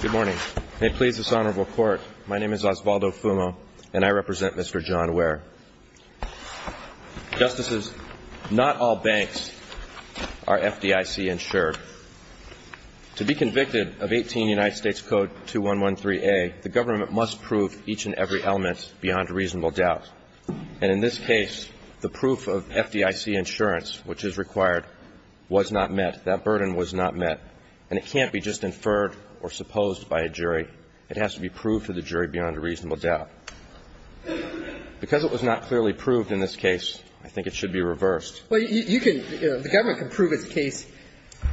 Good morning. May it please this Honorable Court, my name is Osvaldo Fumo and I represent Mr. John Ware. Justices, not all banks are FDIC insured. To be convicted of 18 United States Code 2113A, the government must prove each and every element beyond reasonable doubt. And in this case, the proof of FDIC insurance, which is required, was not met. That burden was not met. And it can't be just inferred or supposed by a jury. It has to be proved to the jury beyond a reasonable doubt. Because it was not clearly proved in this case, I think it should be reversed. Well, you can, the government can prove its case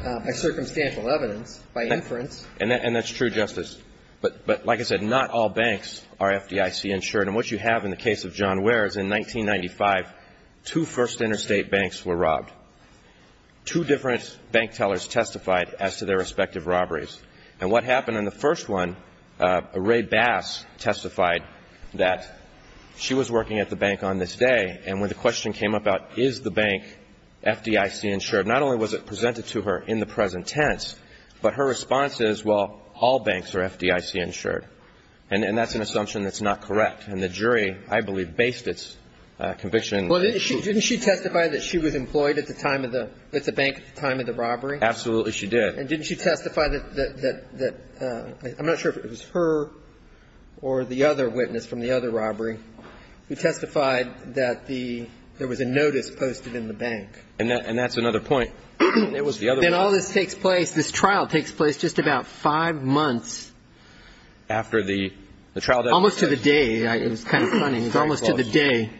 by circumstantial evidence, by inference. And that's true, Justice. But like I said, not all banks are FDIC insured. And what you have in the case of John Ware is in 1995, two First Interstate banks were robbed. Two different bank tellers testified as to their respective robberies. And what happened in the first one, Ray Bass testified that she was working at the bank on this day, and when the question came up about is the bank FDIC insured, not only was it presented to her in the present tense, but her response is, well, all banks are FDIC insured. And that's an assumption that's not correct. And the jury, I believe, based its conviction. Well, didn't she testify that she was employed at the bank at the time of the robbery? Absolutely, she did. And didn't she testify that, I'm not sure if it was her or the other witness from the other robbery, who testified that there was a notice posted in the bank? And that's another point. Then all this takes place, this trial takes place just about five months. After the trial. Almost to the day. It was kind of funny. It was almost to the day.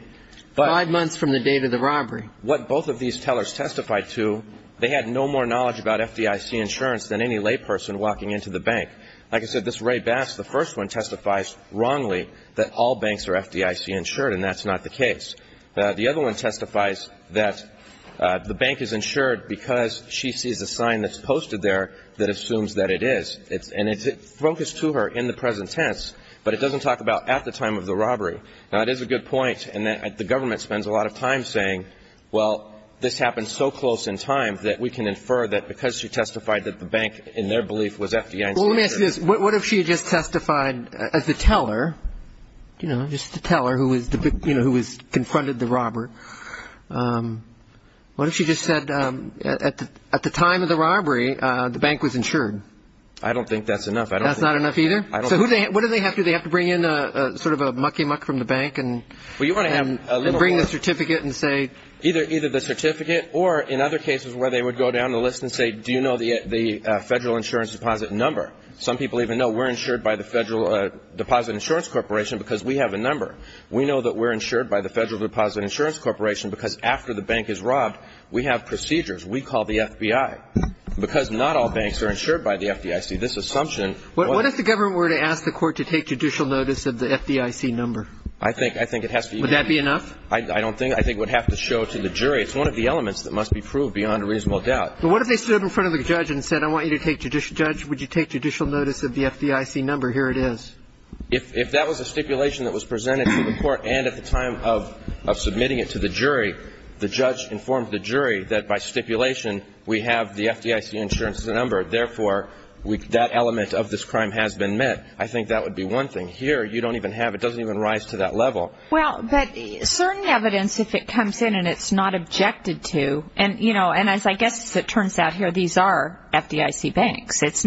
Five months from the date of the robbery. What both of these tellers testified to, they had no more knowledge about FDIC insurance than any layperson walking into the bank. Like I said, this Ray Bass, the first one testifies wrongly that all banks are FDIC insured, and that's not the case. The other one testifies that the bank is insured because she sees a sign that's posted there that assumes that it is. And it's focused to her in the present tense, but it doesn't talk about at the time of the robbery. Now, it is a good point, and the government spends a lot of time saying, well, this happened so close in time that we can infer that because she testified that the bank, in their belief, was FDIC insured. Well, let me ask you this. What if she had just testified as the teller, you know, just the teller who was, you know, who confronted the robber? What if she just said at the time of the robbery, the bank was insured? I don't think that's enough. That's not enough either? I don't think so. So what do they have to do? Bring in sort of a mucky-muck from the bank and bring the certificate and say. Either the certificate or in other cases where they would go down the list and say, do you know the federal insurance deposit number? Some people even know we're insured by the Federal Deposit Insurance Corporation because we have a number. We know that we're insured by the Federal Deposit Insurance Corporation because after the bank is robbed, we have procedures. We call the FBI because not all banks are insured by the FDIC. This assumption. What if the government were to ask the court to take judicial notice of the FDIC number? I think it has to be. Would that be enough? I don't think. I think it would have to show to the jury. It's one of the elements that must be proved beyond a reasonable doubt. But what if they stood up in front of the judge and said, I want you to take judicial notice of the FDIC number? Here it is. If that was a stipulation that was presented to the court and at the time of submitting it to the jury, the judge informed the jury that by stipulation we have the FDIC insurance as a number. Therefore, that element of this crime has been met. I think that would be one thing. Here you don't even have it. It doesn't even rise to that level. Well, but certain evidence, if it comes in and it's not objected to, and, you know, and as I guess it turns out here, these are FDIC banks. It's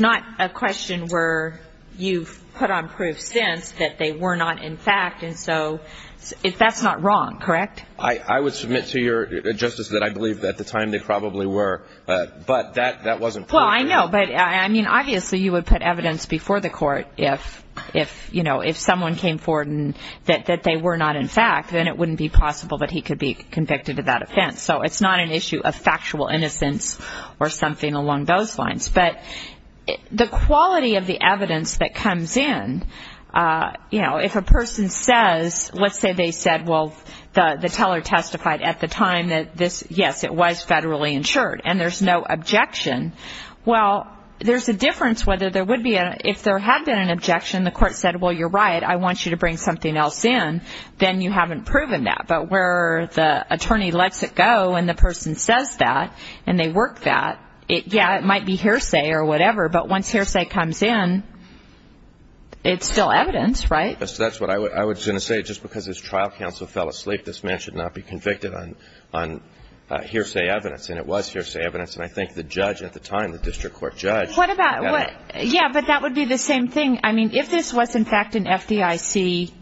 not a question where you've put on proof since that they were not in fact. And so that's not wrong, correct? I would submit to your justice that I believe at the time they probably were. But that wasn't clear. Well, I know. But, I mean, obviously you would put evidence before the court if, you know, if someone came forward and that they were not in fact, then it wouldn't be possible that he could be convicted of that offense. So it's not an issue of factual innocence or something along those lines. But the quality of the evidence that comes in, you know, if a person says, let's say they said, well, the teller testified at the time that this, yes, it was federally insured. And there's no objection. Well, there's a difference whether there would be a, if there had been an objection, the court said, well, you're right, I want you to bring something else in, then you haven't proven that. But where the attorney lets it go and the person says that, and they work that, yeah, it might be hearsay or whatever. But once hearsay comes in, it's still evidence, right? That's what I was going to say. Just because his trial counsel fell asleep, this man should not be convicted on hearsay evidence. And it was hearsay evidence. And I think the judge at the time, the district court judge. What about, yeah, but that would be the same thing. I mean, if this was, in fact, an FDIC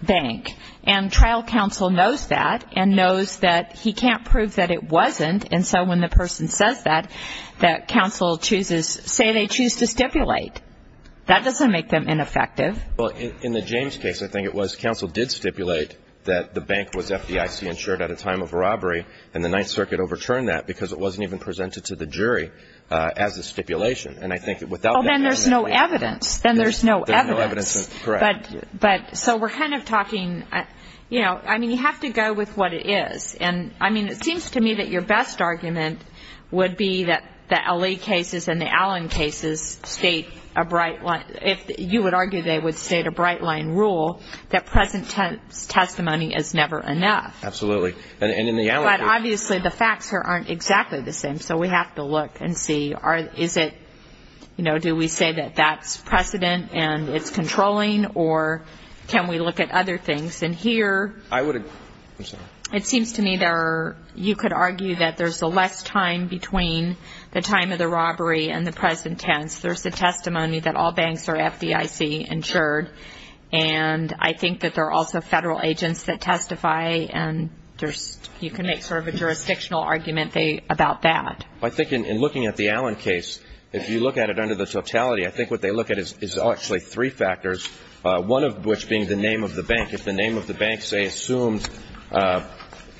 bank, and trial counsel knows that and knows that he can't prove that it wasn't, and so when the person says that, that counsel chooses, say they choose to stipulate. That doesn't make them ineffective. Well, in the James case, I think it was counsel did stipulate that the bank was FDIC-insured at a time of robbery, and the Ninth Circuit overturned that because it wasn't even presented to the jury as a stipulation. And I think that without that evidence. Well, then there's no evidence. Then there's no evidence. There's no evidence. Correct. But so we're kind of talking, you know, I mean, you have to go with what it is. And, I mean, it seems to me that your best argument would be that the LA cases and the Allen cases state a bright line. If you would argue they would state a bright line rule, that present testimony is never enough. Absolutely. And in the Allen case. But obviously the facts aren't exactly the same, so we have to look and see. Is it, you know, do we say that that's precedent and it's controlling, or can we look at other things? And here it seems to me there are, you could argue that there's a less time between the time of the robbery and the present tense. There's the testimony that all banks are FDIC-insured, and I think that there are also federal agents that testify, and you can make sort of a jurisdictional argument about that. I think in looking at the Allen case, if you look at it under the totality, I think what they look at is actually three factors, one of which being the name of the bank. If the name of the bank, say, assumed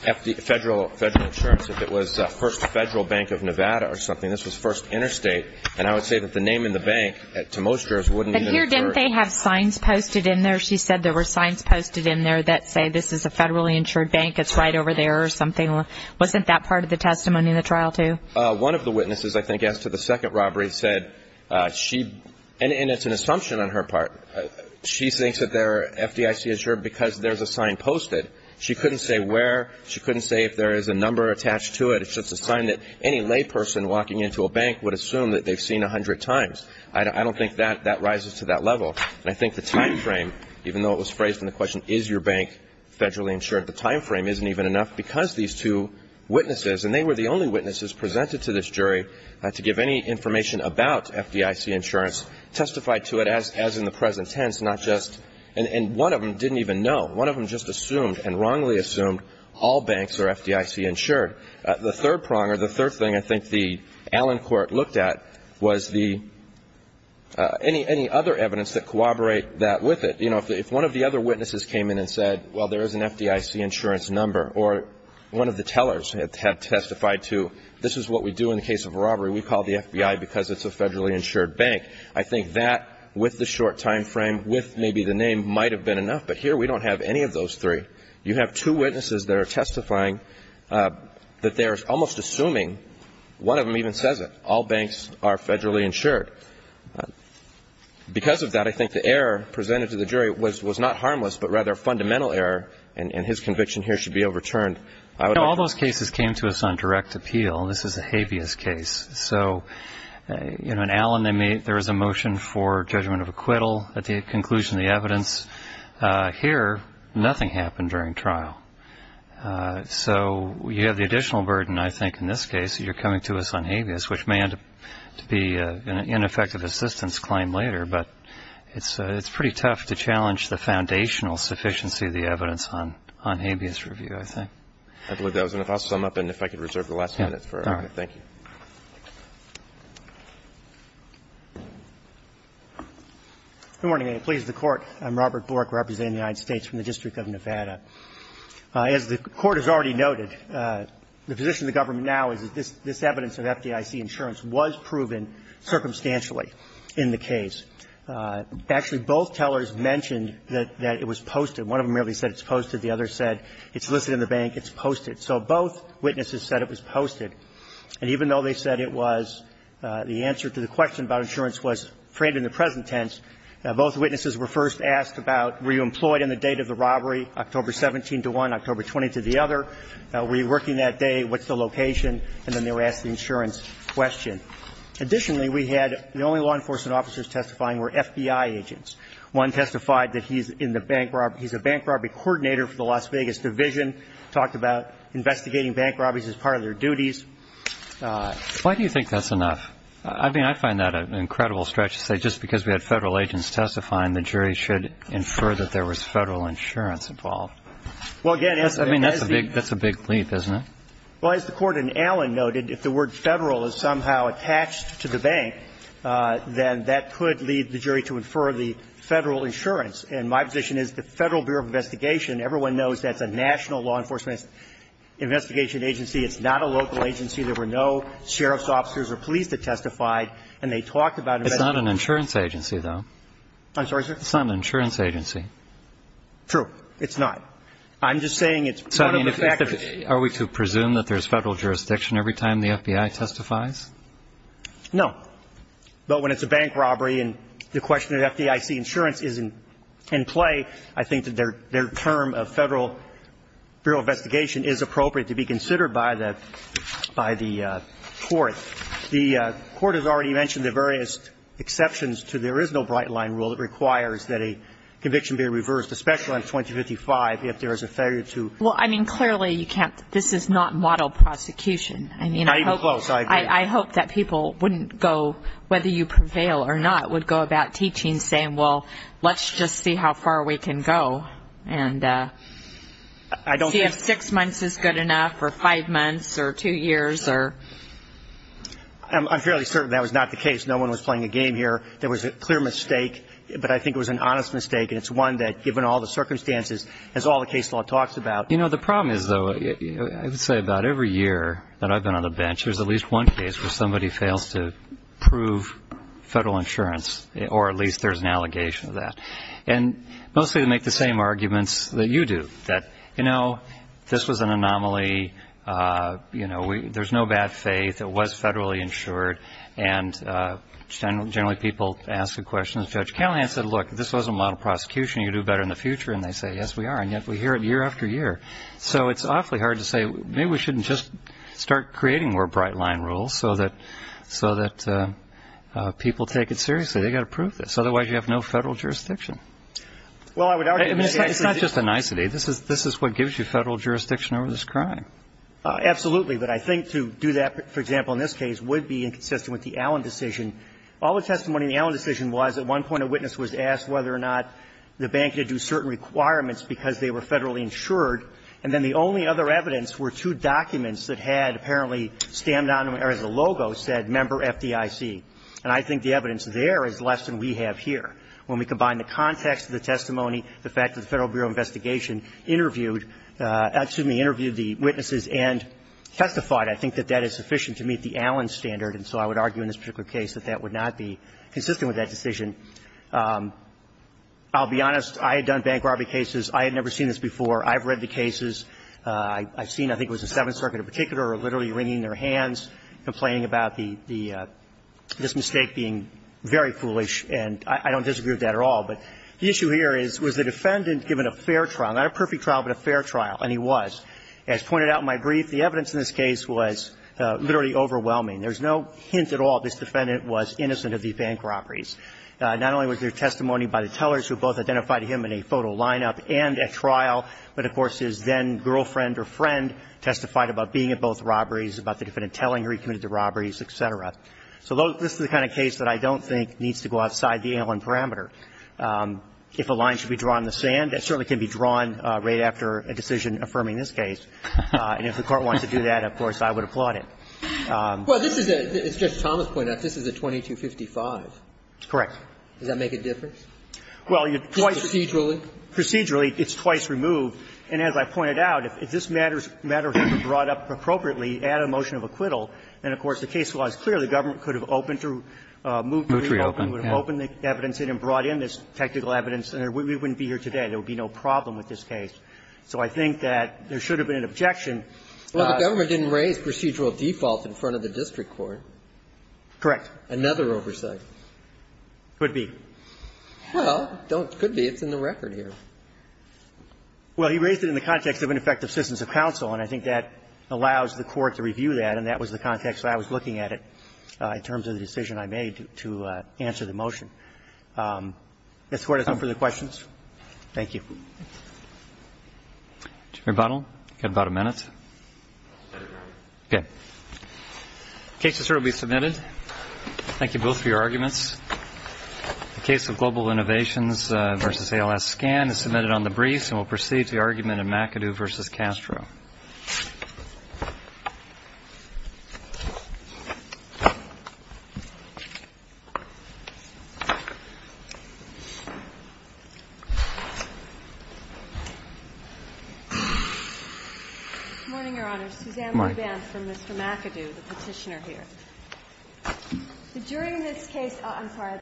federal insurance, if it was First Federal Bank of Nevada or something, this was First Interstate, and I would say that the name in the bank, to most jurors, wouldn't even occur. Here, didn't they have signs posted in there? She said there were signs posted in there that say this is a federally insured bank, it's right over there or something. Wasn't that part of the testimony in the trial, too? One of the witnesses, I think, as to the second robbery said she, and it's an assumption on her part, she thinks that they're FDIC-insured because there's a sign posted. She couldn't say where. She couldn't say if there is a number attached to it. It's just a sign that any layperson walking into a bank would assume that they've seen 100 times. I don't think that rises to that level. And I think the time frame, even though it was phrased in the question, is your bank federally insured, the time frame isn't even enough because these two witnesses, and they were the only witnesses presented to this jury to give any information about FDIC insurance, testified to it as in the present tense, not just, and one of them didn't even know. One of them just assumed and wrongly assumed all banks are FDIC-insured. The third prong or the third thing I think the Allen court looked at was the, any other evidence that corroborate that with it. You know, if one of the other witnesses came in and said, well, there is an FDIC insurance number, or one of the tellers had testified to, this is what we do in the case of a robbery. We call the FBI because it's a federally insured bank. I think that, with the short time frame, with maybe the name, might have been enough. But here we don't have any of those three. You have two witnesses that are testifying that they're almost assuming, one of them even says it, all banks are federally insured. Because of that, I think the error presented to the jury was not harmless, but rather fundamental error, and his conviction here should be overturned. I would hope. All those cases came to us on direct appeal. This is a habeas case. So, you know, in Allen, there was a motion for judgment of acquittal at the conclusion of the evidence. Here, nothing happened during trial. So you have the additional burden, I think, in this case. You're coming to us on habeas, which may end up to be an ineffective assistance claim later. But it's pretty tough to challenge the foundational sufficiency of the evidence on habeas review, I think. I believe that was enough. I'll sum up, and if I could reserve the last minute for it. All right. Thank you. Good morning. Please, the Court. I'm Robert Bork representing the United States from the District of Nevada. As the Court has already noted, the position of the government now is that this evidence of FDIC insurance was proven circumstantially in the case. Actually, both tellers mentioned that it was posted. One of them really said it's posted. The other said it's listed in the bank. It's posted. So both witnesses said it was posted. And even though they said it was, the answer to the question about insurance was framed in the present tense, both witnesses were first asked about were you employed in the date of the robbery, October 17 to one, October 20 to the other. Were you working that day? What's the location? And then they were asked the insurance question. Additionally, we had the only law enforcement officers testifying were FBI agents. One testified that he's in the bank robbery. He's a bank robbery coordinator for the Las Vegas division, talked about investigating bank robberies as part of their duties. Why do you think that's enough? I mean, I find that an incredible stretch to say just because we had Federal agents testifying, the jury should infer that there was Federal insurance involved. I mean, that's a big leap, isn't it? Well, as the Court in Allen noted, if the word Federal is somehow attached to the bank, then that could lead the jury to infer the Federal insurance. And my position is the Federal Bureau of Investigation, everyone knows that's a national law enforcement investigation agency. It's not a local agency. There were no sheriff's officers or police that testified, and they talked about it. It's not an insurance agency, though. I'm sorry, sir? It's not an insurance agency. True. It's not. I'm just saying it's part of the factors. So, I mean, are we to presume that there's Federal jurisdiction every time the FBI testifies? No. But when it's a bank robbery and the question of FDIC insurance is in play, I think that their term of Federal Bureau of Investigation is appropriate to be considered by the Court. The Court has already mentioned the various exceptions to there is no bright-line rule that requires that a conviction be reversed, especially on 2055 if there is a failure to do so. Well, I mean, clearly you can't – this is not model prosecution. Not even close, I agree. I hope that people wouldn't go, whether you prevail or not, would go about teaching, saying, well, let's just see how far we can go and see if six months is good enough or five months or two years or – I'm fairly certain that was not the case. No one was playing a game here. There was a clear mistake, but I think it was an honest mistake, and it's one that, given all the circumstances, as all the case law talks about – You know, the problem is, though, I would say about every year that I've been on the bench, there's at least one case where somebody fails to prove Federal insurance, or at least there's an allegation of that. And mostly they make the same arguments that you do, that, you know, this was an anomaly. You know, there's no bad faith. It was Federally insured. And generally people ask the questions of Judge Callahan and say, look, if this wasn't model prosecution, you'd do better in the future. And they say, yes, we are. And yet we hear it year after year. So it's awfully hard to say, maybe we shouldn't just start creating more bright-line rules so that people take it seriously. They've got to prove this, otherwise you have no Federal jurisdiction. I mean, it's not just a nicety. This is what gives you Federal jurisdiction over this crime. Absolutely. But I think to do that, for example, in this case, would be inconsistent with the Allen decision. All the testimony in the Allen decision was at one point a witness was asked whether or not the bank had to do certain requirements because they were Federally insured, and then the only other evidence were two documents that had apparently stamped on them, or as a logo said, Member FDIC. And I think the evidence there is less than we have here. When we combine the context of the testimony, the fact that the Federal Bureau of Investigation interviewed the witnesses and testified, I think that that is sufficient to meet the Allen standard. And so I would argue in this particular case that that would not be consistent with that decision. I'll be honest. I had done bank robbery cases. I had never seen this before. I've read the cases. I've seen, I think it was the Seventh Circuit in particular, literally wringing their hands, complaining about the, this mistake being very foolish. And I don't disagree with that at all. But the issue here is, was the defendant given a fair trial? Not a perfect trial, but a fair trial. And he was. As pointed out in my brief, the evidence in this case was literally overwhelming. There's no hint at all this defendant was innocent of these bank robberies. Not only was there testimony by the tellers who both identified him in a photo lineup and at trial, but, of course, his then-girlfriend or friend testified about being at both robberies, about the defendant telling her he committed the robberies, et cetera. So this is the kind of case that I don't think needs to go outside the Allen parameter. If a line should be drawn in the sand, it certainly can be drawn right after a decision affirming this case. And if the Court wanted to do that, of course, I would applaud it. Roberts. Well, this is a, as Judge Thomas pointed out, this is a 2255. Correct. Does that make a difference? Well, twice. Just procedurally? Procedurally, it's twice removed. And as I pointed out, if this matter was ever brought up appropriately at a motion of acquittal, then, of course, the case law is clear. The government could have opened to remove it. It would have opened the evidence in and brought in this technical evidence. And we wouldn't be here today. There would be no problem with this case. So I think that there should have been an objection. Well, the government didn't raise procedural default in front of the district Correct. Another oversight. Could be. Well, don't --"could be." It's in the record here. Well, he raised it in the context of ineffective assistance of counsel, and I think that allows the Court to review that, and that was the context I was looking at it in terms of the decision I made to answer the motion. If the Court has no further questions. Thank you. Chief Rebuttal. You've got about a minute. Okay. The case is here to be submitted. Thank you both for your arguments. The case of Global Innovations v. ALS Scan is submitted on the briefs and will proceed to the argument of McAdoo v. Castro. Good morning, Your Honor. Suzanne Loubin from Mr. McAdoo, the Petitioner here. During this case, I'm sorry.